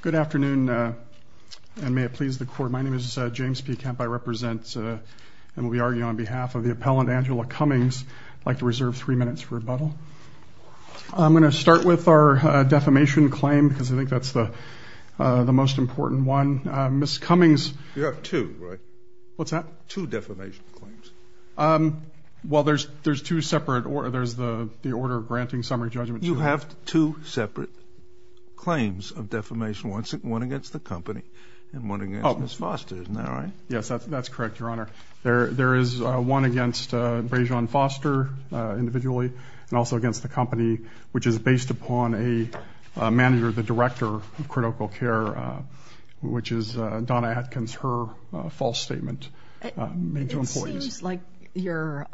Good afternoon, and may it please the court. My name is James P. Kemp. I represent and will be arguing on behalf of the appellant, Angela Cummings. I'd like to reserve three minutes for rebuttal. I'm going to start with our defamation claim, because I think that's the most important one. Ms. Cummings... You have two, right? What's that? Two defamation claims. Well, there's two separate... there's the order granting summary judgment. You have two separate claims of defamation. One against the company, and one against Ms. Foster. Isn't that right? Yes, that's correct, Your Honor. There is one against Brayjean Foster, individually, and also against the company, which is based upon a manager, the director of critical care, which is Donna Atkins, her false statement made to employees. It seems like your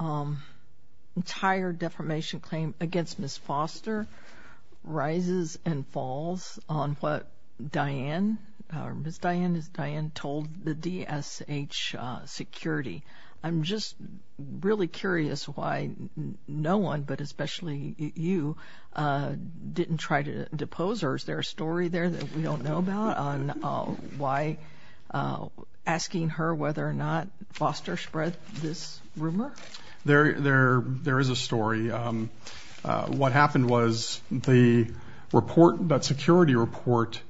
entire defamation claim against Ms. Foster rises and falls on what Diane, or Ms. Diane, as Diane told the DSH security. I'm just really curious why no one, but especially you, didn't try to depose her. Is there a story there that we don't know about on why... asking her whether or not Foster spread this rumor? There is a story. What happened was the report, that security report,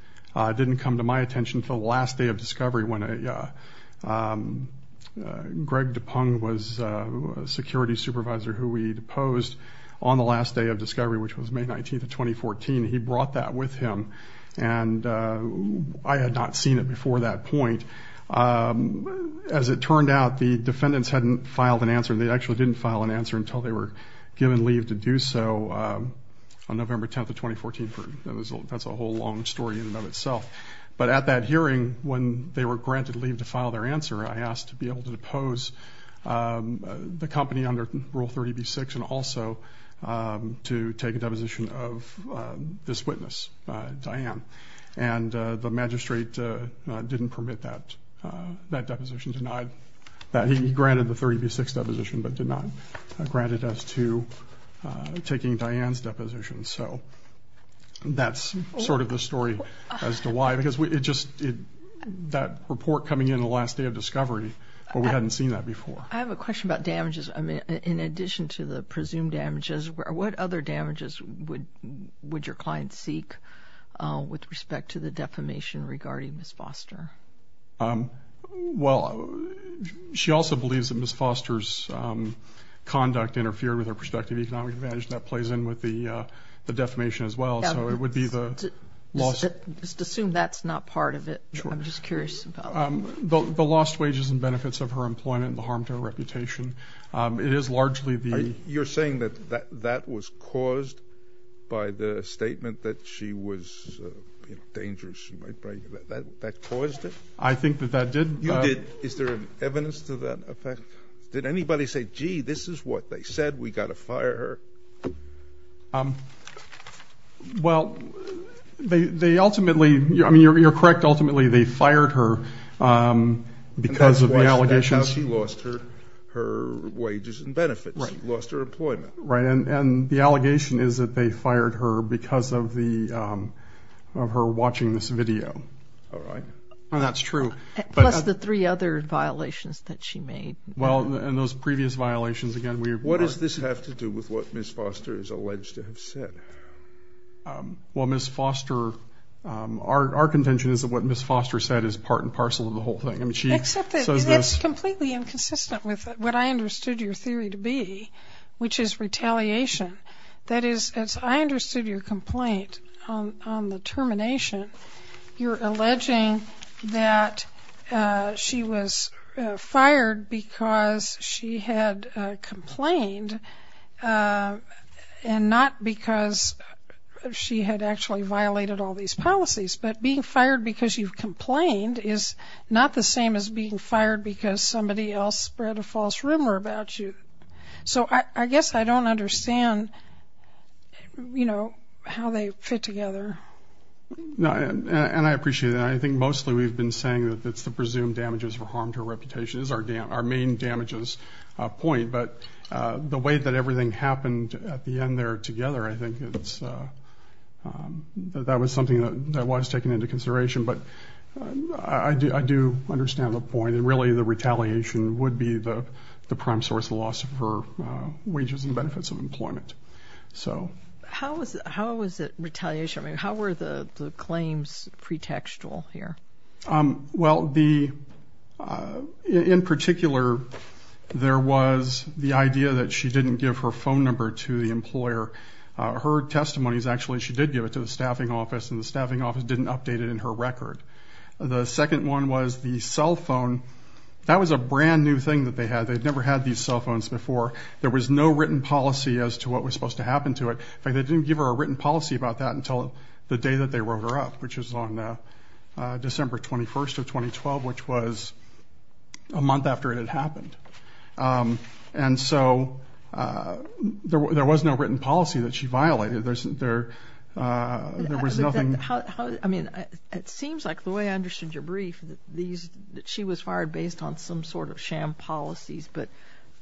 didn't come to my attention until the last day of discovery when Greg Dupong was a security supervisor who we deposed on the last day of discovery, which was May 19th of 2014. He brought that with him, and I had not seen it before that point. As it turned out, the defendants hadn't filed an answer. They actually didn't file an answer until they were given leave to do so on November 10th of 2014. That's a whole long story in and of itself. But at that hearing, when they were granted leave to file their answer, I asked to be able to depose the company under Rule 30b-6 and also to take a deposition of this witness, Diane. And the magistrate didn't permit that deposition. He granted the 30b-6 deposition, but did not grant it as to taking Diane's deposition. So that's sort of the story as to why. Because that report coming in the last day of discovery, we hadn't seen that before. I have a question about damages. In addition to the presumed damages, what other damages would your client seek with respect to the defamation regarding Ms. Foster? Well, she also believes that Ms. Foster's conduct interfered with her prospective economic advantage, and that plays in with the defamation as well. Just assume that's not part of it. I'm just curious. The lost wages and benefits of her employment and the harm to her reputation. It is largely the... You're saying that that was caused by the statement that she was dangerous. That caused it? I think that that did. You did. Is there evidence to that effect? Did anybody say, gee, this is what they said, we've got to fire her? Well, they ultimately... I mean, you're correct. Ultimately, they fired her because of the allegations. That's how she lost her wages and benefits. Lost her employment. Right. And the allegation is that they fired her because of her watching this video. All right. That's true. Plus the three other violations that she made. Well, and those previous violations, again, we... What does this have to do with what Ms. Foster is alleged to have said? Well, Ms. Foster... Our contention is that what Ms. Foster said is part and parcel of the whole thing. Except that it's completely inconsistent with what I understood your theory to be, which is retaliation. That is, as I understood your complaint on the termination, you're alleging that she was fired because she had complained, and not because she had actually violated all these policies. But being fired because you've complained is not the same as being fired because somebody else spread a false rumor about you. So I guess I don't understand, you know, how they fit together. And I appreciate that. I think mostly we've been saying that it's the presumed damages that harmed her reputation is our main damages point. But the way that everything happened at the end there together, I think it's... That was something that was taken into consideration. But I do understand the point that really the retaliation would be the prime source of the loss of her wages and benefits of employment. So... How was it retaliation? I mean, how were the claims pretextual here? Well, the... In particular, there was the idea that she didn't give her phone number to the employer. Her testimony is actually she did give it to the staffing office, and the staffing office didn't update it in her record. The second one was the cell phone. That was a brand new thing that they had. They'd never had these cell phones before. There was no written policy as to what was supposed to happen to it. In fact, they didn't give her a written policy about that until the day that they wrote her up, which was on December 21st of 2012, which was a month after it had happened. And so there was no written policy that she violated. There was nothing... I mean, it seems like, the way I understood your brief, that she was fired based on some sort of sham policies. But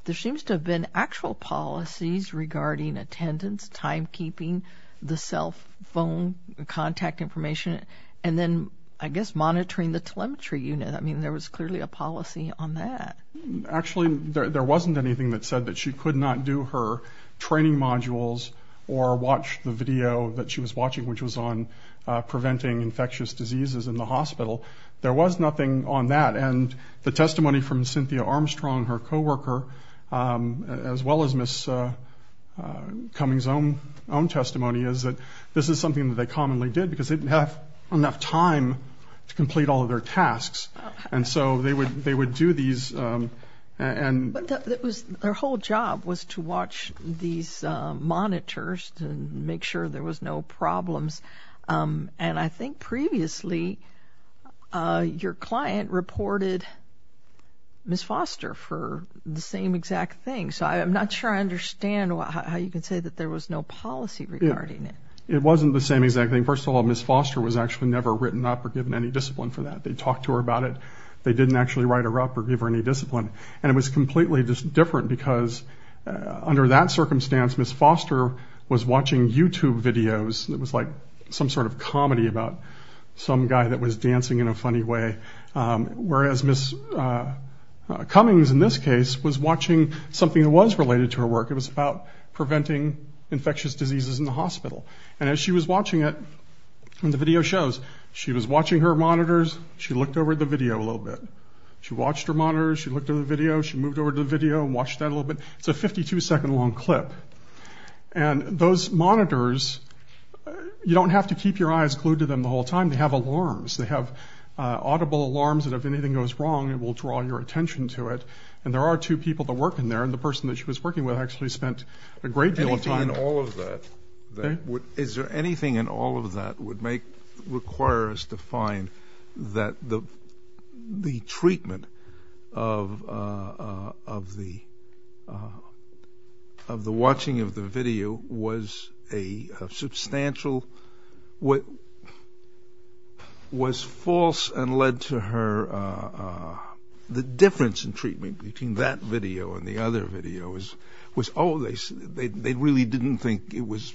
there seems to have been actual policies regarding attendance, timekeeping, the cell phone, contact information, and then, I guess, monitoring the telemetry unit. I mean, there was clearly a policy on that. Actually, there wasn't anything that said that she could not do her training modules or watch the video that she was watching, which was on preventing infectious diseases in the hospital. There was nothing on that. And the testimony from Cynthia Armstrong, her co-worker, as well as Ms. Cummings' own testimony, is that this is something that they commonly did because they didn't have enough time to complete all of their tasks. And so they would do these and... But their whole job was to watch these monitors to make sure there was no problems. And I think previously your client reported Ms. Foster for the same exact thing. So I'm not sure I understand how you can say that there was no policy regarding it. It wasn't the same exact thing. First of all, Ms. Foster was actually never written up or given any discipline for that. They talked to her about it. They didn't actually write her up or give her any discipline. And it was completely different because under that circumstance, Ms. Foster was watching YouTube videos. It was like some sort of comedy about some guy that was dancing in a funny way. Whereas Ms. Cummings, in this case, was watching something that was related to her work. It was about preventing infectious diseases in the hospital. And as she was watching it, and the video shows, she was watching her monitors. She looked over at the video a little bit. She watched her monitors. She looked at the video. She moved over to the video and watched that a little bit. It's a 52-second long clip. And those monitors, you don't have to keep your eyes glued to them the whole time. They have alarms. They have audible alarms, and if anything goes wrong, it will draw your attention to it. And there are two people that work in there, and the person that she was working with actually spent a great deal of time. Is there anything in all of that that would require us to find that the treatment of the watching of the video was a substantial, was false and led to her, the difference in treatment between that video and the other video was, oh, they really didn't think it was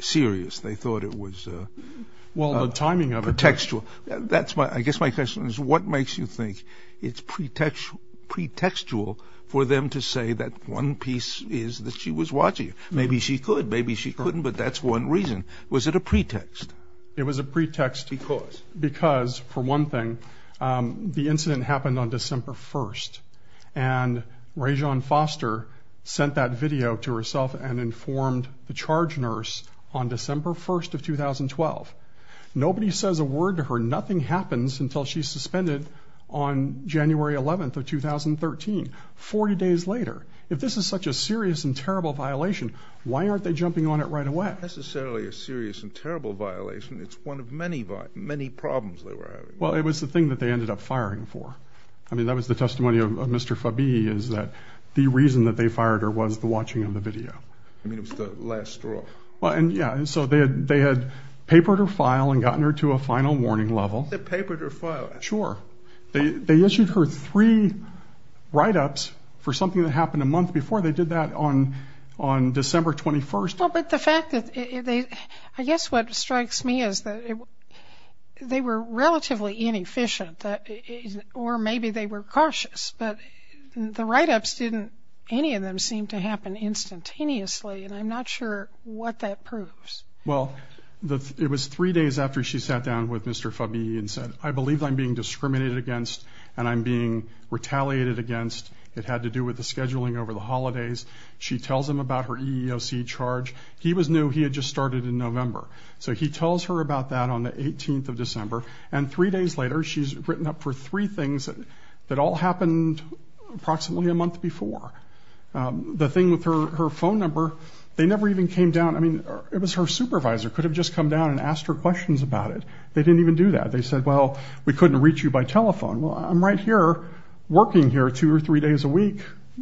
serious. They thought it was pretextual. I guess my question is, what makes you think it's pretextual for them to say that one piece is that she was watching it? Maybe she could. Maybe she couldn't. But that's one reason. Was it a pretext? It was a pretext because, for one thing, the incident happened on December 1st. And Rajon Foster sent that video to herself and informed the charge nurse on December 1st of 2012. Nobody says a word to her. Nothing happens until she's suspended on January 11th of 2013, 40 days later. If this is such a serious and terrible violation, why aren't they jumping on it right away? It's not necessarily a serious and terrible violation. It's one of many problems they were having. Well, it was the thing that they ended up firing for. I mean, that was the testimony of Mr. Fabi is that the reason that they fired her was the watching of the video. I mean, it was the last straw. And, yeah, so they had papered her file and gotten her to a final warning level. They papered her file. Sure. They issued her three write-ups for something that happened a month before. They did that on December 21st. Well, but the fact that they – I guess what strikes me is that they were relatively inefficient, or maybe they were cautious. But the write-ups didn't – any of them seemed to happen instantaneously, and I'm not sure what that proves. Well, it was three days after she sat down with Mr. Fabi and said, I believe I'm being discriminated against and I'm being retaliated against. It had to do with the scheduling over the holidays. She tells him about her EEOC charge. He was new. He had just started in November. So he tells her about that on the 18th of December. And three days later, she's written up for three things that all happened approximately a month before. The thing with her phone number, they never even came down – I mean, it was her supervisor. Could have just come down and asked her questions about it. They didn't even do that. They said, well, we couldn't reach you by telephone. Well, I'm right here working here two or three days a week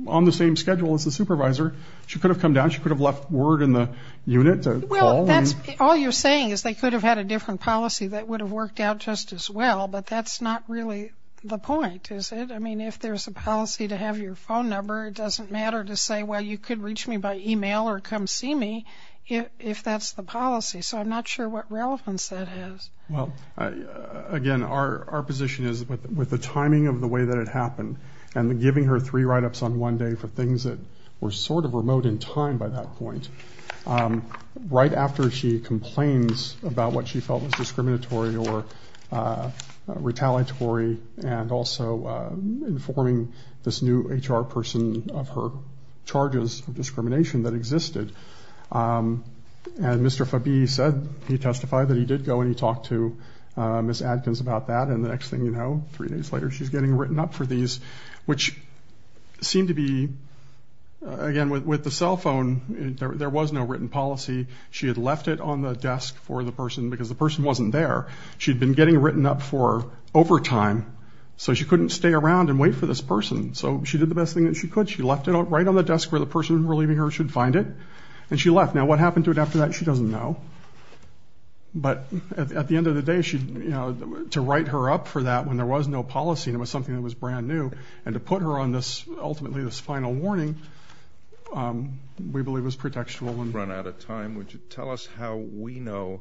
on the same schedule as the supervisor. She could have come down. She could have left word in the unit to call. Well, all you're saying is they could have had a different policy that would have worked out just as well, but that's not really the point, is it? I mean, if there's a policy to have your phone number, it doesn't matter to say, well, you could reach me by email or come see me if that's the policy. So I'm not sure what relevance that is. Well, again, our position is with the timing of the way that it happened and giving her three write-ups on one day for things that were sort of remote in time by that point, right after she complains about what she felt was discriminatory or retaliatory and also informing this new HR person of her charges of discrimination that existed, and Mr. Fabi said he testified that he did go and he talked to Ms. Adkins about that, and the next thing you know, three days later, she's getting written up for these, which seemed to be, again, with the cell phone, there was no written policy. She had left it on the desk for the person because the person wasn't there. She'd been getting written up for overtime, so she couldn't stay around and wait for this person, so she did the best thing that she could. She left it right on the desk where the person relieving her should find it, and she left. Now, what happened to it after that, she doesn't know, but at the end of the day, to write her up for that when there was no policy and it was something that was brand new and to put her on this, ultimately, this final warning, we believe was pretextual. We've run out of time. Would you tell us how we know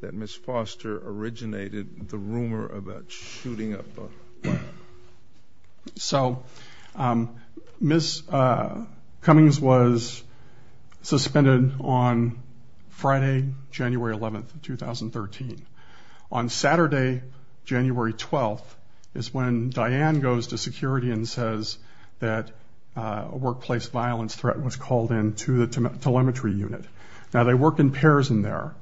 that Ms. Foster originated the rumor about shooting up the plant? So Ms. Cummings was suspended on Friday, January 11th, 2013. On Saturday, January 12th, is when Diane goes to security and says that a workplace violence threat was called in to the telemetry unit. Now, they work in pairs in there.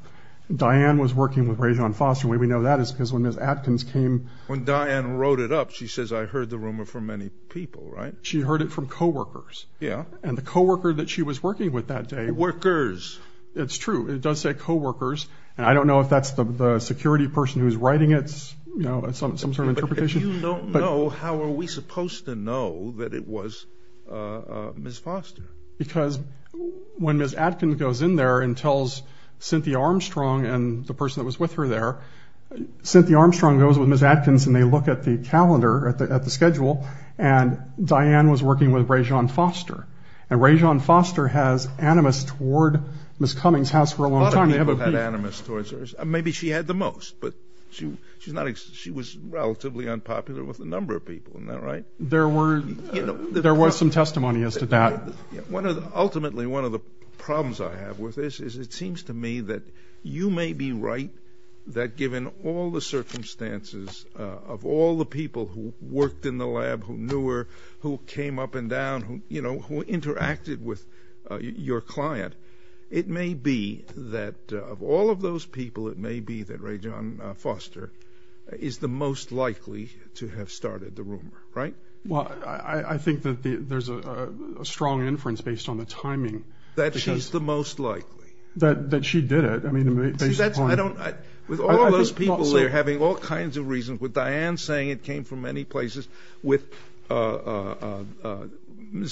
Diane was working with Rayjean Foster. The way we know that is because when Ms. Atkins came... She says, I heard the rumor from many people, right? She heard it from co-workers. Yeah. And the co-worker that she was working with that day... Workers. It's true. It does say co-workers, and I don't know if that's the security person who's writing it, some sort of interpretation. If you don't know, how are we supposed to know that it was Ms. Foster? Because when Ms. Atkins goes in there and tells Cynthia Armstrong and the person that was with her there, Cynthia Armstrong goes with Ms. Atkins and they look at the calendar, at the schedule, and Diane was working with Rayjean Foster. And Rayjean Foster has animus toward Ms. Cummings' house for a long time. A lot of people have had animus towards her. Maybe she had the most, but she was relatively unpopular with a number of people. Isn't that right? There was some testimony as to that. Ultimately, one of the problems I have with this is it seems to me that you may be right that given all the circumstances of all the people who worked in the lab, who knew her, who came up and down, who interacted with your client, it may be that of all of those people, it may be that Rayjean Foster is the most likely to have started the rumor. Right? Well, I think that there's a strong inference based on the timing. That she's the most likely. That she did it. With all those people there having all kinds of reasons, with Diane saying it came from many places, with Ms.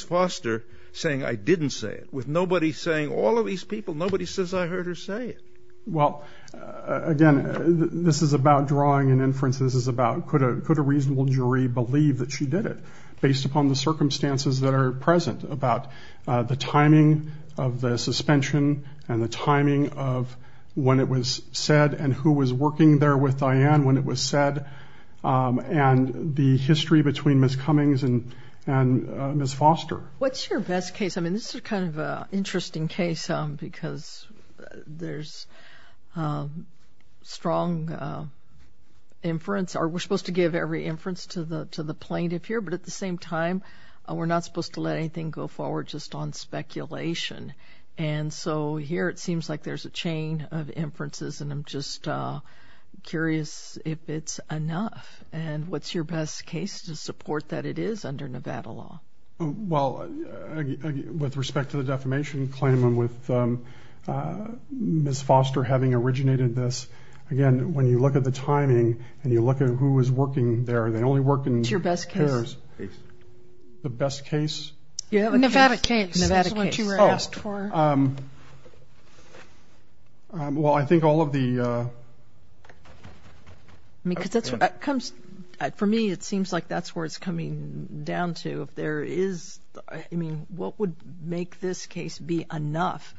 Foster saying I didn't say it, with nobody saying, all of these people, nobody says I heard her say it. Well, again, this is about drawing an inference. This is about could a reasonable jury believe that she did it based upon the circumstances that are present, about the timing of the suspension and the timing of when it was said and who was working there with Diane when it was said, and the history between Ms. Cummings and Ms. Foster. What's your best case? I mean, this is kind of an interesting case because there's strong inference. We're supposed to give every inference to the plaintiff here, but at the same time, we're not supposed to let anything go forward just on speculation. And so here it seems like there's a chain of inferences, and I'm just curious if it's enough. And what's your best case to support that it is under Nevada law? Well, with respect to the defamation claim and with Ms. Foster having originated this, again, when you look at the timing and you look at who was working there, they only work in pairs. The best case? Nevada case. Nevada case. That's what you were asked for. Oh. Well, I think all of the— I mean, because that's what comes—for me, it seems like that's where it's coming down to. If there is—I mean, what would make this case be enough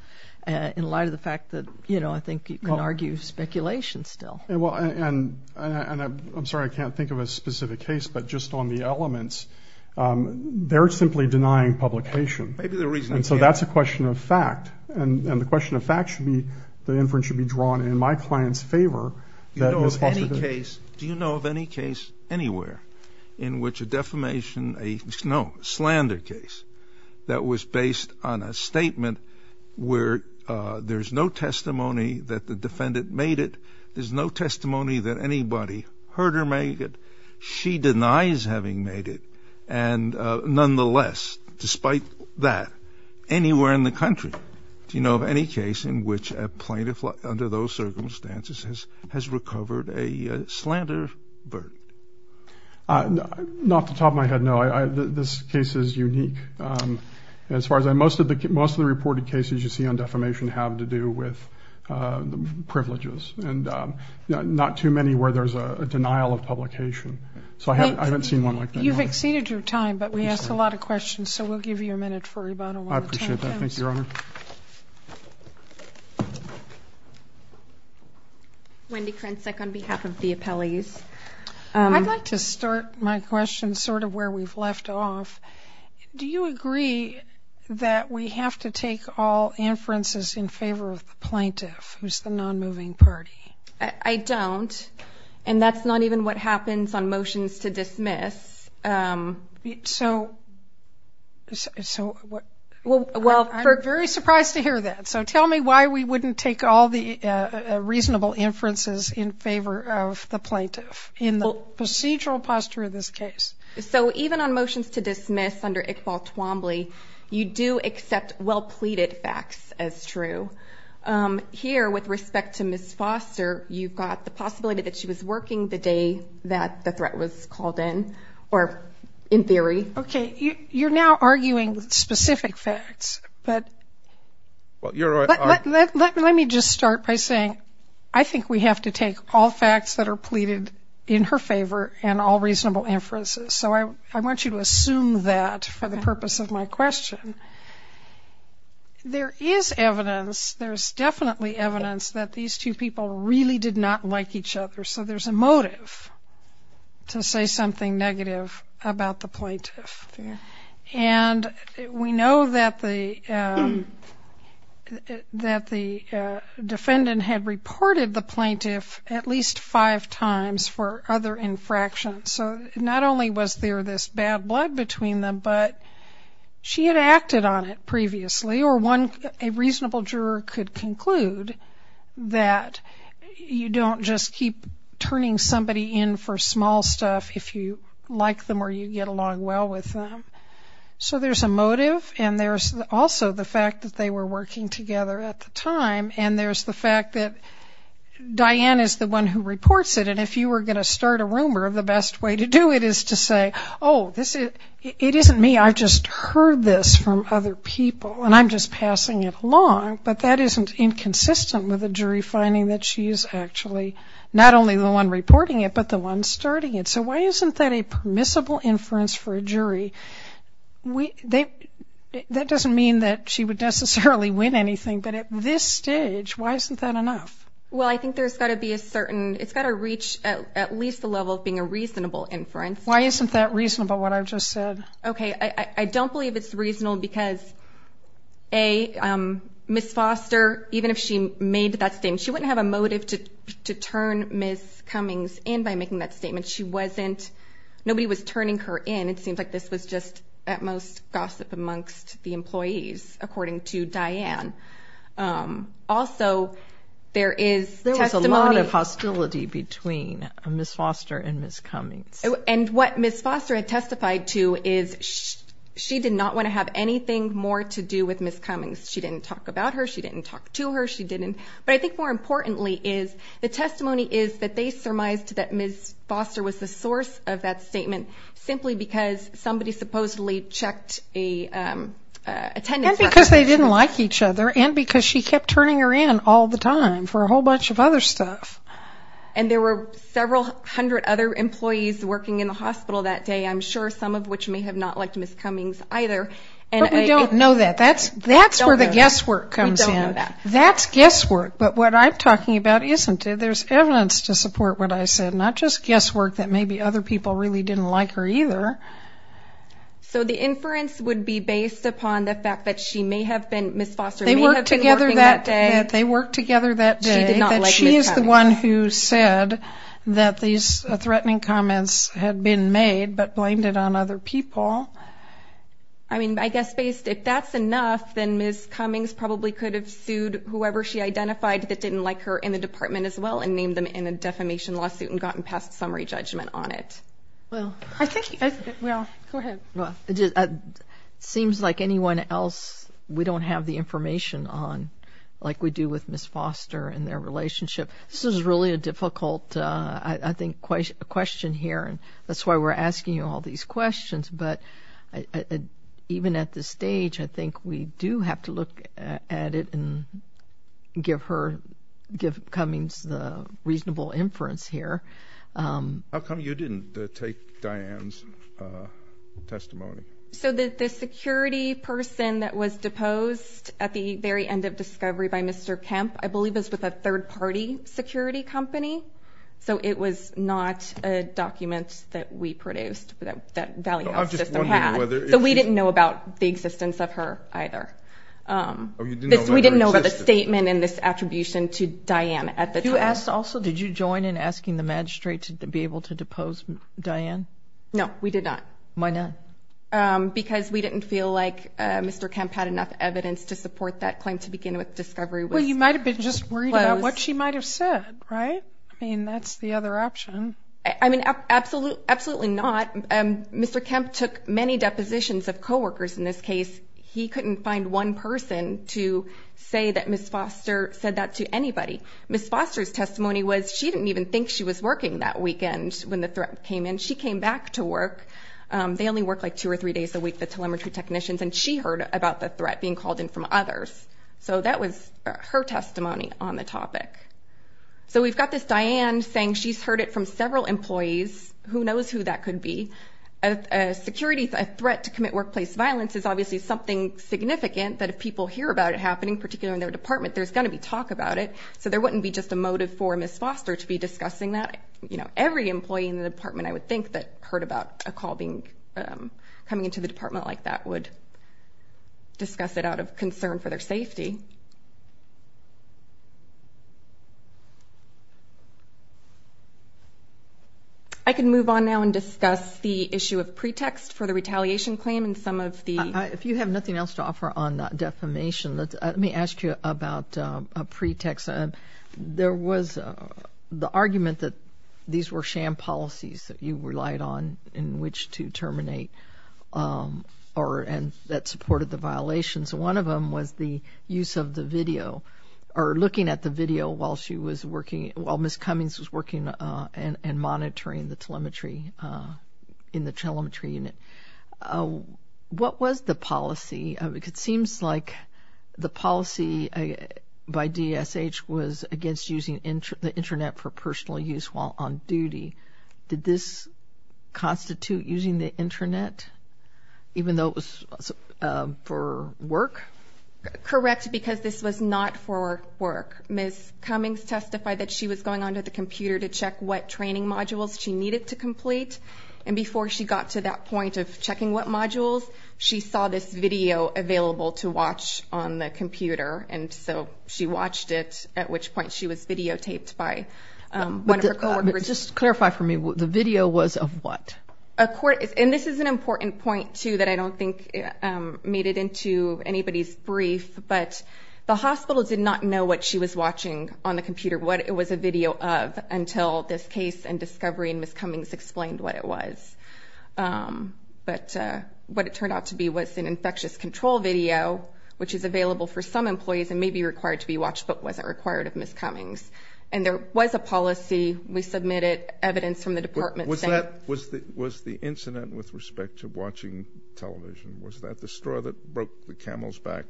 in light of the fact that, you know, I think you can argue speculation still. Well, and I'm sorry I can't think of a specific case, but just on the elements, they're simply denying publication. Maybe the reason— And so that's a question of fact. And the question of fact should be the inference should be drawn in my client's favor that Ms. Foster— Do you know of any case anywhere in which a defamation—no, a slander case that was based on a statement where there's no testimony that the defendant made it, there's no testimony that anybody heard her make it, she denies having made it, and nonetheless, despite that, anywhere in the country, do you know of any case in which a plaintiff under those circumstances has recovered a slander verdict? Not off the top of my head, no. This case is unique. As far as I know, most of the reported cases you see on defamation have to do with privileges and not too many where there's a denial of publication. So I haven't seen one like that. You've exceeded your time, but we asked a lot of questions, so we'll give you a minute for rebuttal. I appreciate that. Thank you, Your Honor. Wendy Krensek on behalf of the appellees. I'd like to start my question sort of where we've left off. Do you agree that we have to take all inferences in favor of the plaintiff, who's the nonmoving party? I don't, and that's not even what happens on motions to dismiss. So I'm very surprised to hear that. So tell me why we wouldn't take all the reasonable inferences in favor of the plaintiff in the procedural posture of this case. So even on motions to dismiss under Iqbal Twombly, you do accept well-pleaded facts as true. Here, with respect to Ms. Foster, you've got the possibility that she was working the day that the threat was called in, or in theory. Okay, you're now arguing specific facts, but let me just start by saying I think we have to take all facts that are pleaded in her favor and all reasonable inferences. So I want you to assume that for the purpose of my question. There is evidence, there's definitely evidence that these two people really did not like each other, so there's a motive to say something negative about the plaintiff. And we know that the defendant had reported the plaintiff at least five times for other infractions. So not only was there this bad blood between them, but she had acted on it previously, or a reasonable juror could conclude that you don't just keep turning somebody in for small stuff if you like them or you get along well with them. So there's a motive, and there's also the fact that they were working together at the time, and there's the fact that Diane is the one who reports it, and if you were going to start a rumor, the best way to do it is to say, oh, it isn't me, I just heard this from other people, and I'm just passing it along. But that isn't inconsistent with a jury finding that she's actually not only the one reporting it, but the one starting it. So why isn't that a permissible inference for a jury? That doesn't mean that she would necessarily win anything, but at this stage, why isn't that enough? Well, I think there's got to be a certain ‑‑ it's got to reach at least the level of being a reasonable inference. Why isn't that reasonable, what I've just said? Okay, I don't believe it's reasonable because, A, Ms. Foster, even if she made that statement, she wouldn't have a motive to turn Ms. Cummings in by making that statement. She wasn't ‑‑ nobody was turning her in. It seems like this was just, at most, gossip amongst the employees, according to Diane. Also, there is testimony ‑‑ There was a lot of hostility between Ms. Foster and Ms. Cummings. And what Ms. Foster had testified to is she did not want to have anything more to do with Ms. Cummings. She didn't talk about her. She didn't talk to her. She didn't. But I think more importantly is the testimony is that they surmised that Ms. Foster was the source of that statement simply because somebody supposedly checked a attendance record. And because they didn't like each other and because she kept turning her in all the time for a whole bunch of other stuff. And there were several hundred other employees working in the hospital that day, I'm sure some of which may have not liked Ms. Cummings either. But we don't know that. That's where the guesswork comes in. That's guesswork. But what I'm talking about isn't it. There's evidence to support what I said. Not just guesswork that maybe other people really didn't like her either. So the inference would be based upon the fact that she may have been, Ms. Foster may have been working that day. They worked together that day. She did not like Ms. Cummings. She is the one who said that these threatening comments had been made but blamed it on other people. I mean, I guess based, if that's enough, then Ms. Cummings probably could have sued whoever she identified that didn't like her in the department as well and named them in a defamation lawsuit and gotten past summary judgment on it. Well, I think, well, go ahead. It seems like anyone else we don't have the information on like we do with Ms. Foster and their relationship. This is really a difficult, I think, question here, and that's why we're asking you all these questions. But even at this stage, I think we do have to look at it and give her, give Cummings the reasonable inference here. How come you didn't take Diane's testimony? So the security person that was deposed at the very end of discovery by Mr. Kemp, I believe, was with a third-party security company. So it was not a document that we produced that Valley Health System had. So we didn't know about the existence of her either. We didn't know about the statement and this attribution to Diane at the time. You asked also, did you join in asking the magistrate to be able to depose Diane? No, we did not. Why not? Because we didn't feel like Mr. Kemp had enough evidence to support that claim to begin with discovery. Well, you might have been just worried about what she might have said, right? I mean, that's the other option. I mean, absolutely not. Mr. Kemp took many depositions of coworkers in this case. He couldn't find one person to say that Ms. Foster said that to anybody. Ms. Foster's testimony was she didn't even think she was working that weekend when the threat came in. She came back to work. They only work like two or three days a week, the telemetry technicians, and she heard about the threat being called in from others. So that was her testimony on the topic. So we've got this Diane saying she's heard it from several employees. Who knows who that could be? A security threat to commit workplace violence is obviously something significant, but if people hear about it happening, particularly in their department, there's going to be talk about it. So there wouldn't be just a motive for Ms. Foster to be discussing that. Every employee in the department, I would think, that heard about a call coming into the department like that would discuss it out of concern for their safety. I can move on now and discuss the issue of pretext for the retaliation claim and some of the... If you have nothing else to offer on defamation, let me ask you about a pretext. There was the argument that these were sham policies that you relied on in which to terminate and that supported the violations. One of them was the use of the video or looking at the video while she was working, while Ms. Cummings was working and monitoring the telemetry in the telemetry unit. What was the policy? It seems like the policy by DSH was against using the Internet for personal use while on duty. Did this constitute using the Internet, even though it was for work? Correct, because this was not for work. Ms. Cummings testified that she was going onto the computer to check what training modules she needed to complete, and before she got to that point of checking what modules, she saw this video available to watch on the computer, and so she watched it, at which point she was videotaped by one of her coworkers. Just clarify for me, the video was of what? And this is an important point, too, that I don't think made it into anybody's brief, but the hospital did not know what she was watching on the computer, what it was a video of, until this case and discovery and Ms. Cummings explained what it was. But what it turned out to be was an infectious control video, which is available for some employees and may be required to be watched, but wasn't required of Ms. Cummings. And there was a policy. We submitted evidence from the department. Was the incident with respect to watching television, was that the straw that broke the camel's back?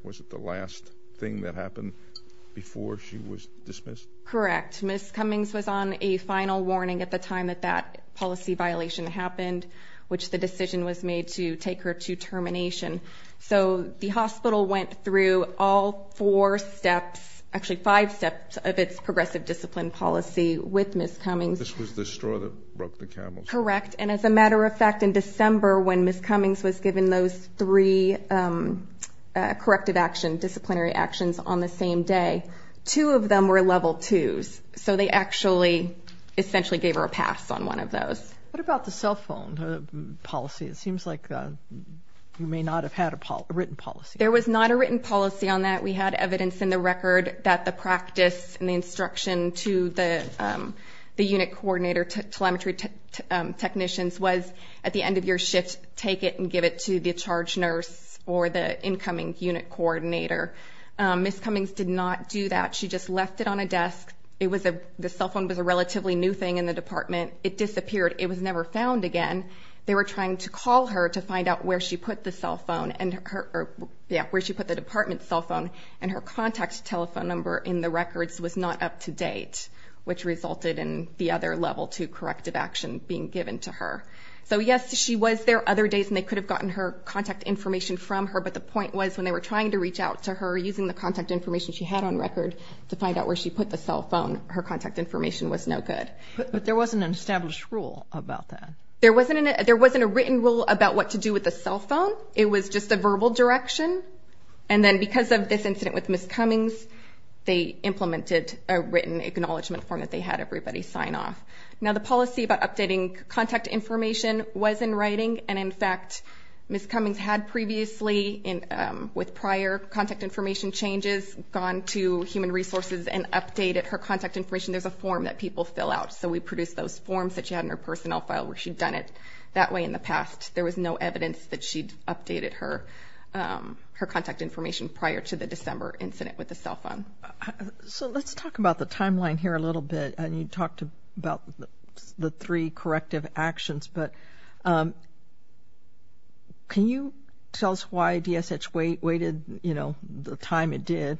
Correct. Ms. Cummings was on a final warning at the time that that policy violation happened, which the decision was made to take her to termination. So the hospital went through all four steps, actually five steps, of its progressive discipline policy with Ms. Cummings. This was the straw that broke the camel's back. Correct. And as a matter of fact, in December, when Ms. Cummings was given those three corrective action, on the same day, two of them were level twos. So they actually essentially gave her a pass on one of those. What about the cell phone policy? It seems like you may not have had a written policy. There was not a written policy on that. We had evidence in the record that the practice and the instruction to the unit coordinator, telemetry technicians, was at the end of your shift, take it and give it to the charge nurse or the incoming unit coordinator. Ms. Cummings did not do that. She just left it on a desk. The cell phone was a relatively new thing in the department. It disappeared. It was never found again. They were trying to call her to find out where she put the department cell phone, and her contact telephone number in the records was not up to date, which resulted in the other level two corrective action being given to her. So yes, she was there other days, and they could have gotten her contact information from her, but the point was when they were trying to reach out to her using the contact information she had on record to find out where she put the cell phone, her contact information was no good. But there wasn't an established rule about that. There wasn't a written rule about what to do with the cell phone. It was just a verbal direction, and then because of this incident with Ms. Cummings, they implemented a written acknowledgment form that they had everybody sign off. Now, the policy about updating contact information was in writing, and in fact Ms. Cummings had previously, with prior contact information changes, gone to human resources and updated her contact information. There's a form that people fill out, so we produced those forms that she had in her personnel file where she'd done it that way in the past. There was no evidence that she'd updated her contact information prior to the December incident with the cell phone. So let's talk about the timeline here a little bit, and you talked about the three corrective actions, but can you tell us why DSH waited the time it did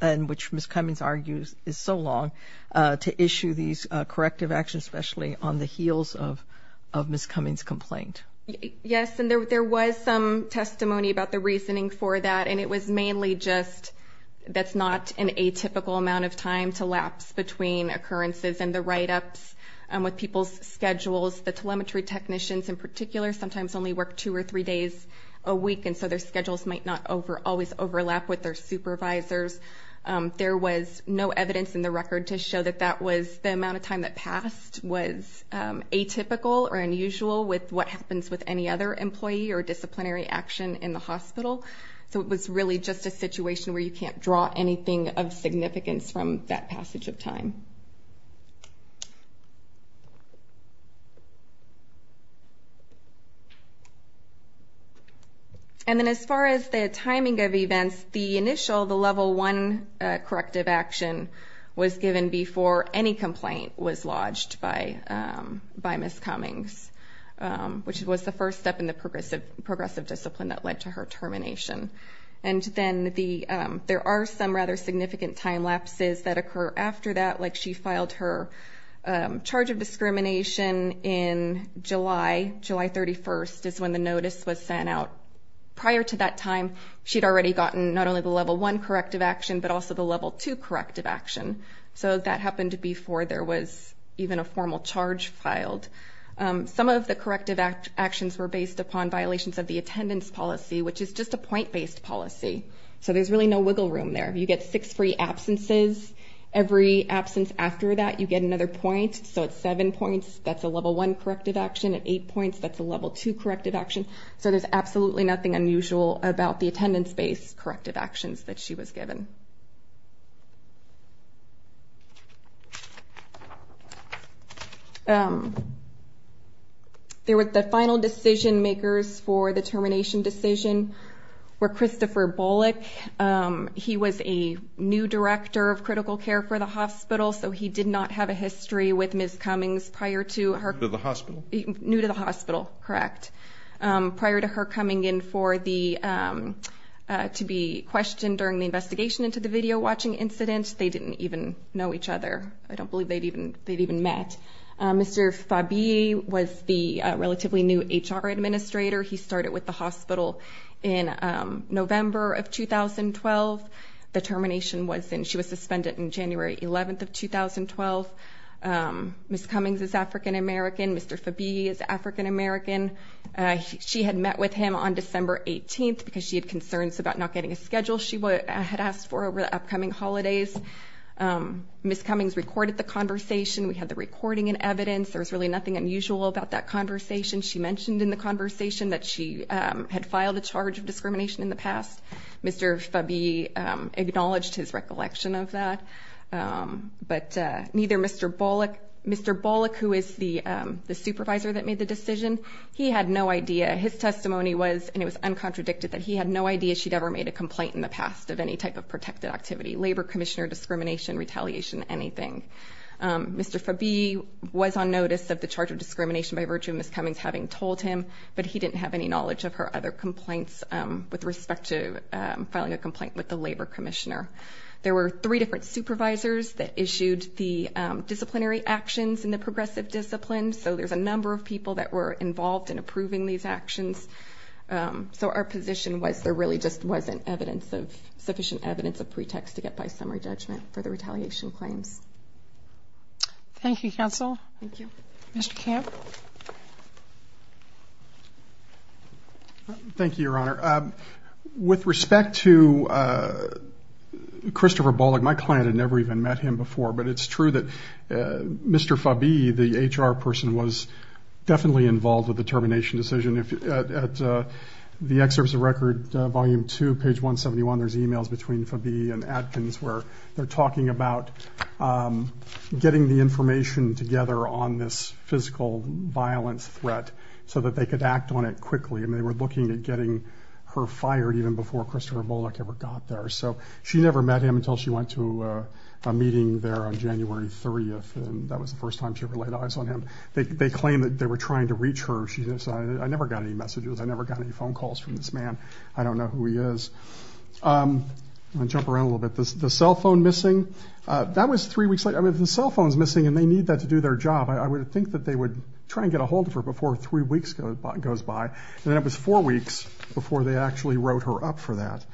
and which Ms. Cummings argues is so long to issue these corrective actions, especially on the heels of Ms. Cummings' complaint? Yes, and there was some testimony about the reasoning for that, and it was mainly just that's not an atypical amount of time to lapse between occurrences and the write-ups with people's schedules. The telemetry technicians in particular sometimes only work two or three days a week, and so their schedules might not always overlap with their supervisors. There was no evidence in the record to show that that was the amount of time that passed was atypical or unusual with what happens with any other employee or disciplinary action in the hospital. So it was really just a situation where you can't draw anything of significance from that passage of time. And then as far as the timing of events, the initial, the Level 1 corrective action, was given before any complaint was lodged by Ms. Cummings, which was the first step in the progressive discipline that led to her termination. And then there are some rather significant time lapses that occur after that, like she filed her charge of discrimination in July, July 31st, is when the notice was sent out. Prior to that time, she'd already gotten not only the Level 1 corrective action, but also the Level 2 corrective action. So that happened before there was even a formal charge filed. Some of the corrective actions were based upon violations of the attendance policy, which is just a point-based policy. So there's really no wiggle room there. You get six free absences. Every absence after that, you get another point. So at seven points, that's a Level 1 corrective action. At eight points, that's a Level 2 corrective action. So there's absolutely nothing unusual about the attendance-based corrective actions that she was given. There were the final decision-makers for the termination decision were Christopher Bullock. He was a new director of critical care for the hospital, so he did not have a history with Ms. Cummings prior to her. New to the hospital. New to the hospital, correct. Prior to her coming in to be questioned during the investigation into the video-watching incident, they didn't even know each other. I don't believe they'd even met. Mr. Fabii was the relatively new HR administrator. He started with the hospital in November of 2012. The termination was in ‑‑ she was suspended in January 11th of 2012. Ms. Cummings is African American. Mr. Fabii is African American. She had met with him on December 18th because she had concerns about not getting a schedule she had asked for over the upcoming holidays. Ms. Cummings recorded the conversation. We had the recording and evidence. There was really nothing unusual about that conversation. She mentioned in the conversation that she had filed a charge of discrimination in the past. Mr. Fabii acknowledged his recollection of that, but neither Mr. Bullock, Mr. Bullock, who is the supervisor that made the decision, he had no idea. His testimony was, and it was uncontradicted, that he had no idea she'd ever made a complaint in the past of any type of protected activity. Labor commissioner discrimination, retaliation, anything. Mr. Fabii was on notice of the charge of discrimination by virtue of Ms. Cummings having told him, but he didn't have any knowledge of her other complaints with respect to filing a complaint with the labor commissioner. There were three different supervisors that issued the disciplinary actions in the progressive discipline, so there's a number of people that were involved in approving these actions. So our position was there really just wasn't sufficient evidence of pretext to get by summary judgment for the retaliation claims. Thank you, counsel. Thank you. Mr. Camp? Thank you, Your Honor. With respect to Christopher Bullock, my client had never even met him before, but it's true that Mr. Fabii, the HR person, was definitely involved with the termination decision. At the excerpts of record, volume two, page 171, there's e-mails between Fabii and Adkins where they're talking about getting the information together on this physical violence threat so that they could act on it quickly, and they were looking at getting her fired even before Christopher Bullock ever got there. So she never met him until she went to a meeting there on January 3, and that was the first time she ever laid eyes on him. They claimed that they were trying to reach her. She said, I never got any messages. I never got any phone calls from this man. I don't know who he is. I'm going to jump around a little bit. The cell phone missing, that was three weeks later. If the cell phone's missing and they need that to do their job, I would think that they would try and get a hold of her before three weeks goes by, and then it was four weeks before they actually wrote her up for that.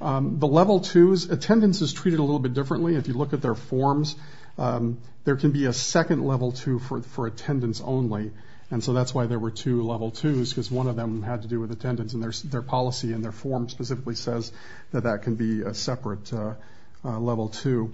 The level twos, attendance is treated a little bit differently. If you look at their forms, there can be a second level two for attendance only, and so that's why there were two level twos because one of them had to do with attendance, and their policy and their form specifically says that that can be a separate level two.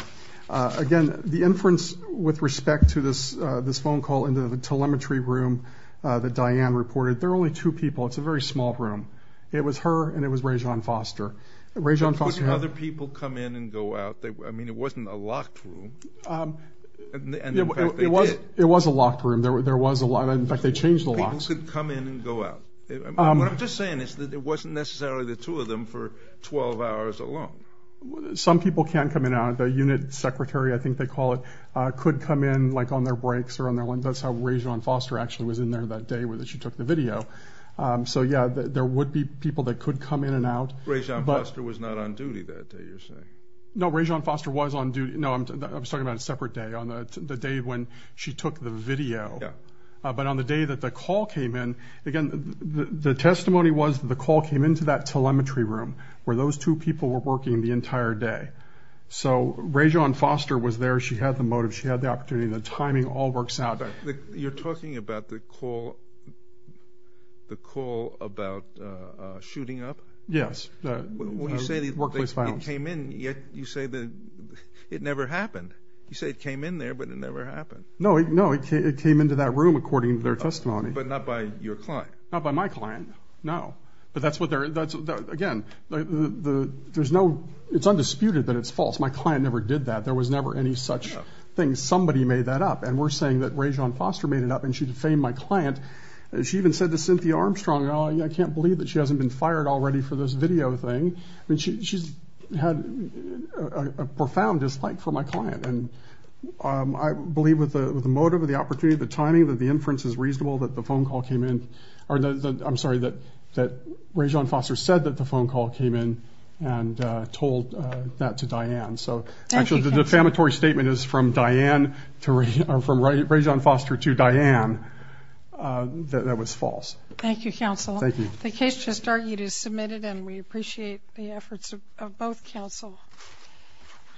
Again, the inference with respect to this phone call into the telemetry room that Diane reported, there are only two people. It's a very small room. It was her and it was Rayjean Foster. Could other people come in and go out? I mean, it wasn't a locked room, and in fact they did. It was a locked room. In fact, they changed the locks. People could come in and go out. What I'm just saying is that it wasn't necessarily the two of them for 12 hours alone. Some people can come in and out. The unit secretary, I think they call it, could come in like on their breaks or on their lunch. That's how Rayjean Foster actually was in there that day that she took the video. So, yeah, there would be people that could come in and out. Rayjean Foster was not on duty that day, you're saying? No, Rayjean Foster was on duty. No, I'm talking about a separate day, on the day when she took the video. Yeah. But on the day that the call came in, again, the testimony was that the call came into that telemetry room where those two people were working the entire day. So Rayjean Foster was there. She had the motive. She had the opportunity. The timing all works out. You're talking about the call about shooting up? Yes. When you say that it came in, you say that it never happened. You say it came in there, but it never happened. No, it came into that room according to their testimony. But not by your client? Not by my client, no. But that's what they're – again, there's no – it's undisputed that it's false. My client never did that. There was never any such thing. Somebody made that up, and we're saying that Rayjean Foster made it up, and she defamed my client. She even said to Cynthia Armstrong, I can't believe that she hasn't been fired already for this video thing. I mean, she's had a profound dislike for my client. And I believe with the motive, the opportunity, the timing, that the inference is reasonable that the phone call came in – I'm sorry, that Rayjean Foster said that the phone call came in and told that to Diane. Thank you, counsel. Actually, the defamatory statement is from Rayjean Foster to Diane that that was false. Thank you, counsel. Thank you. The case just argued is submitted, and we appreciate the efforts of both counsel.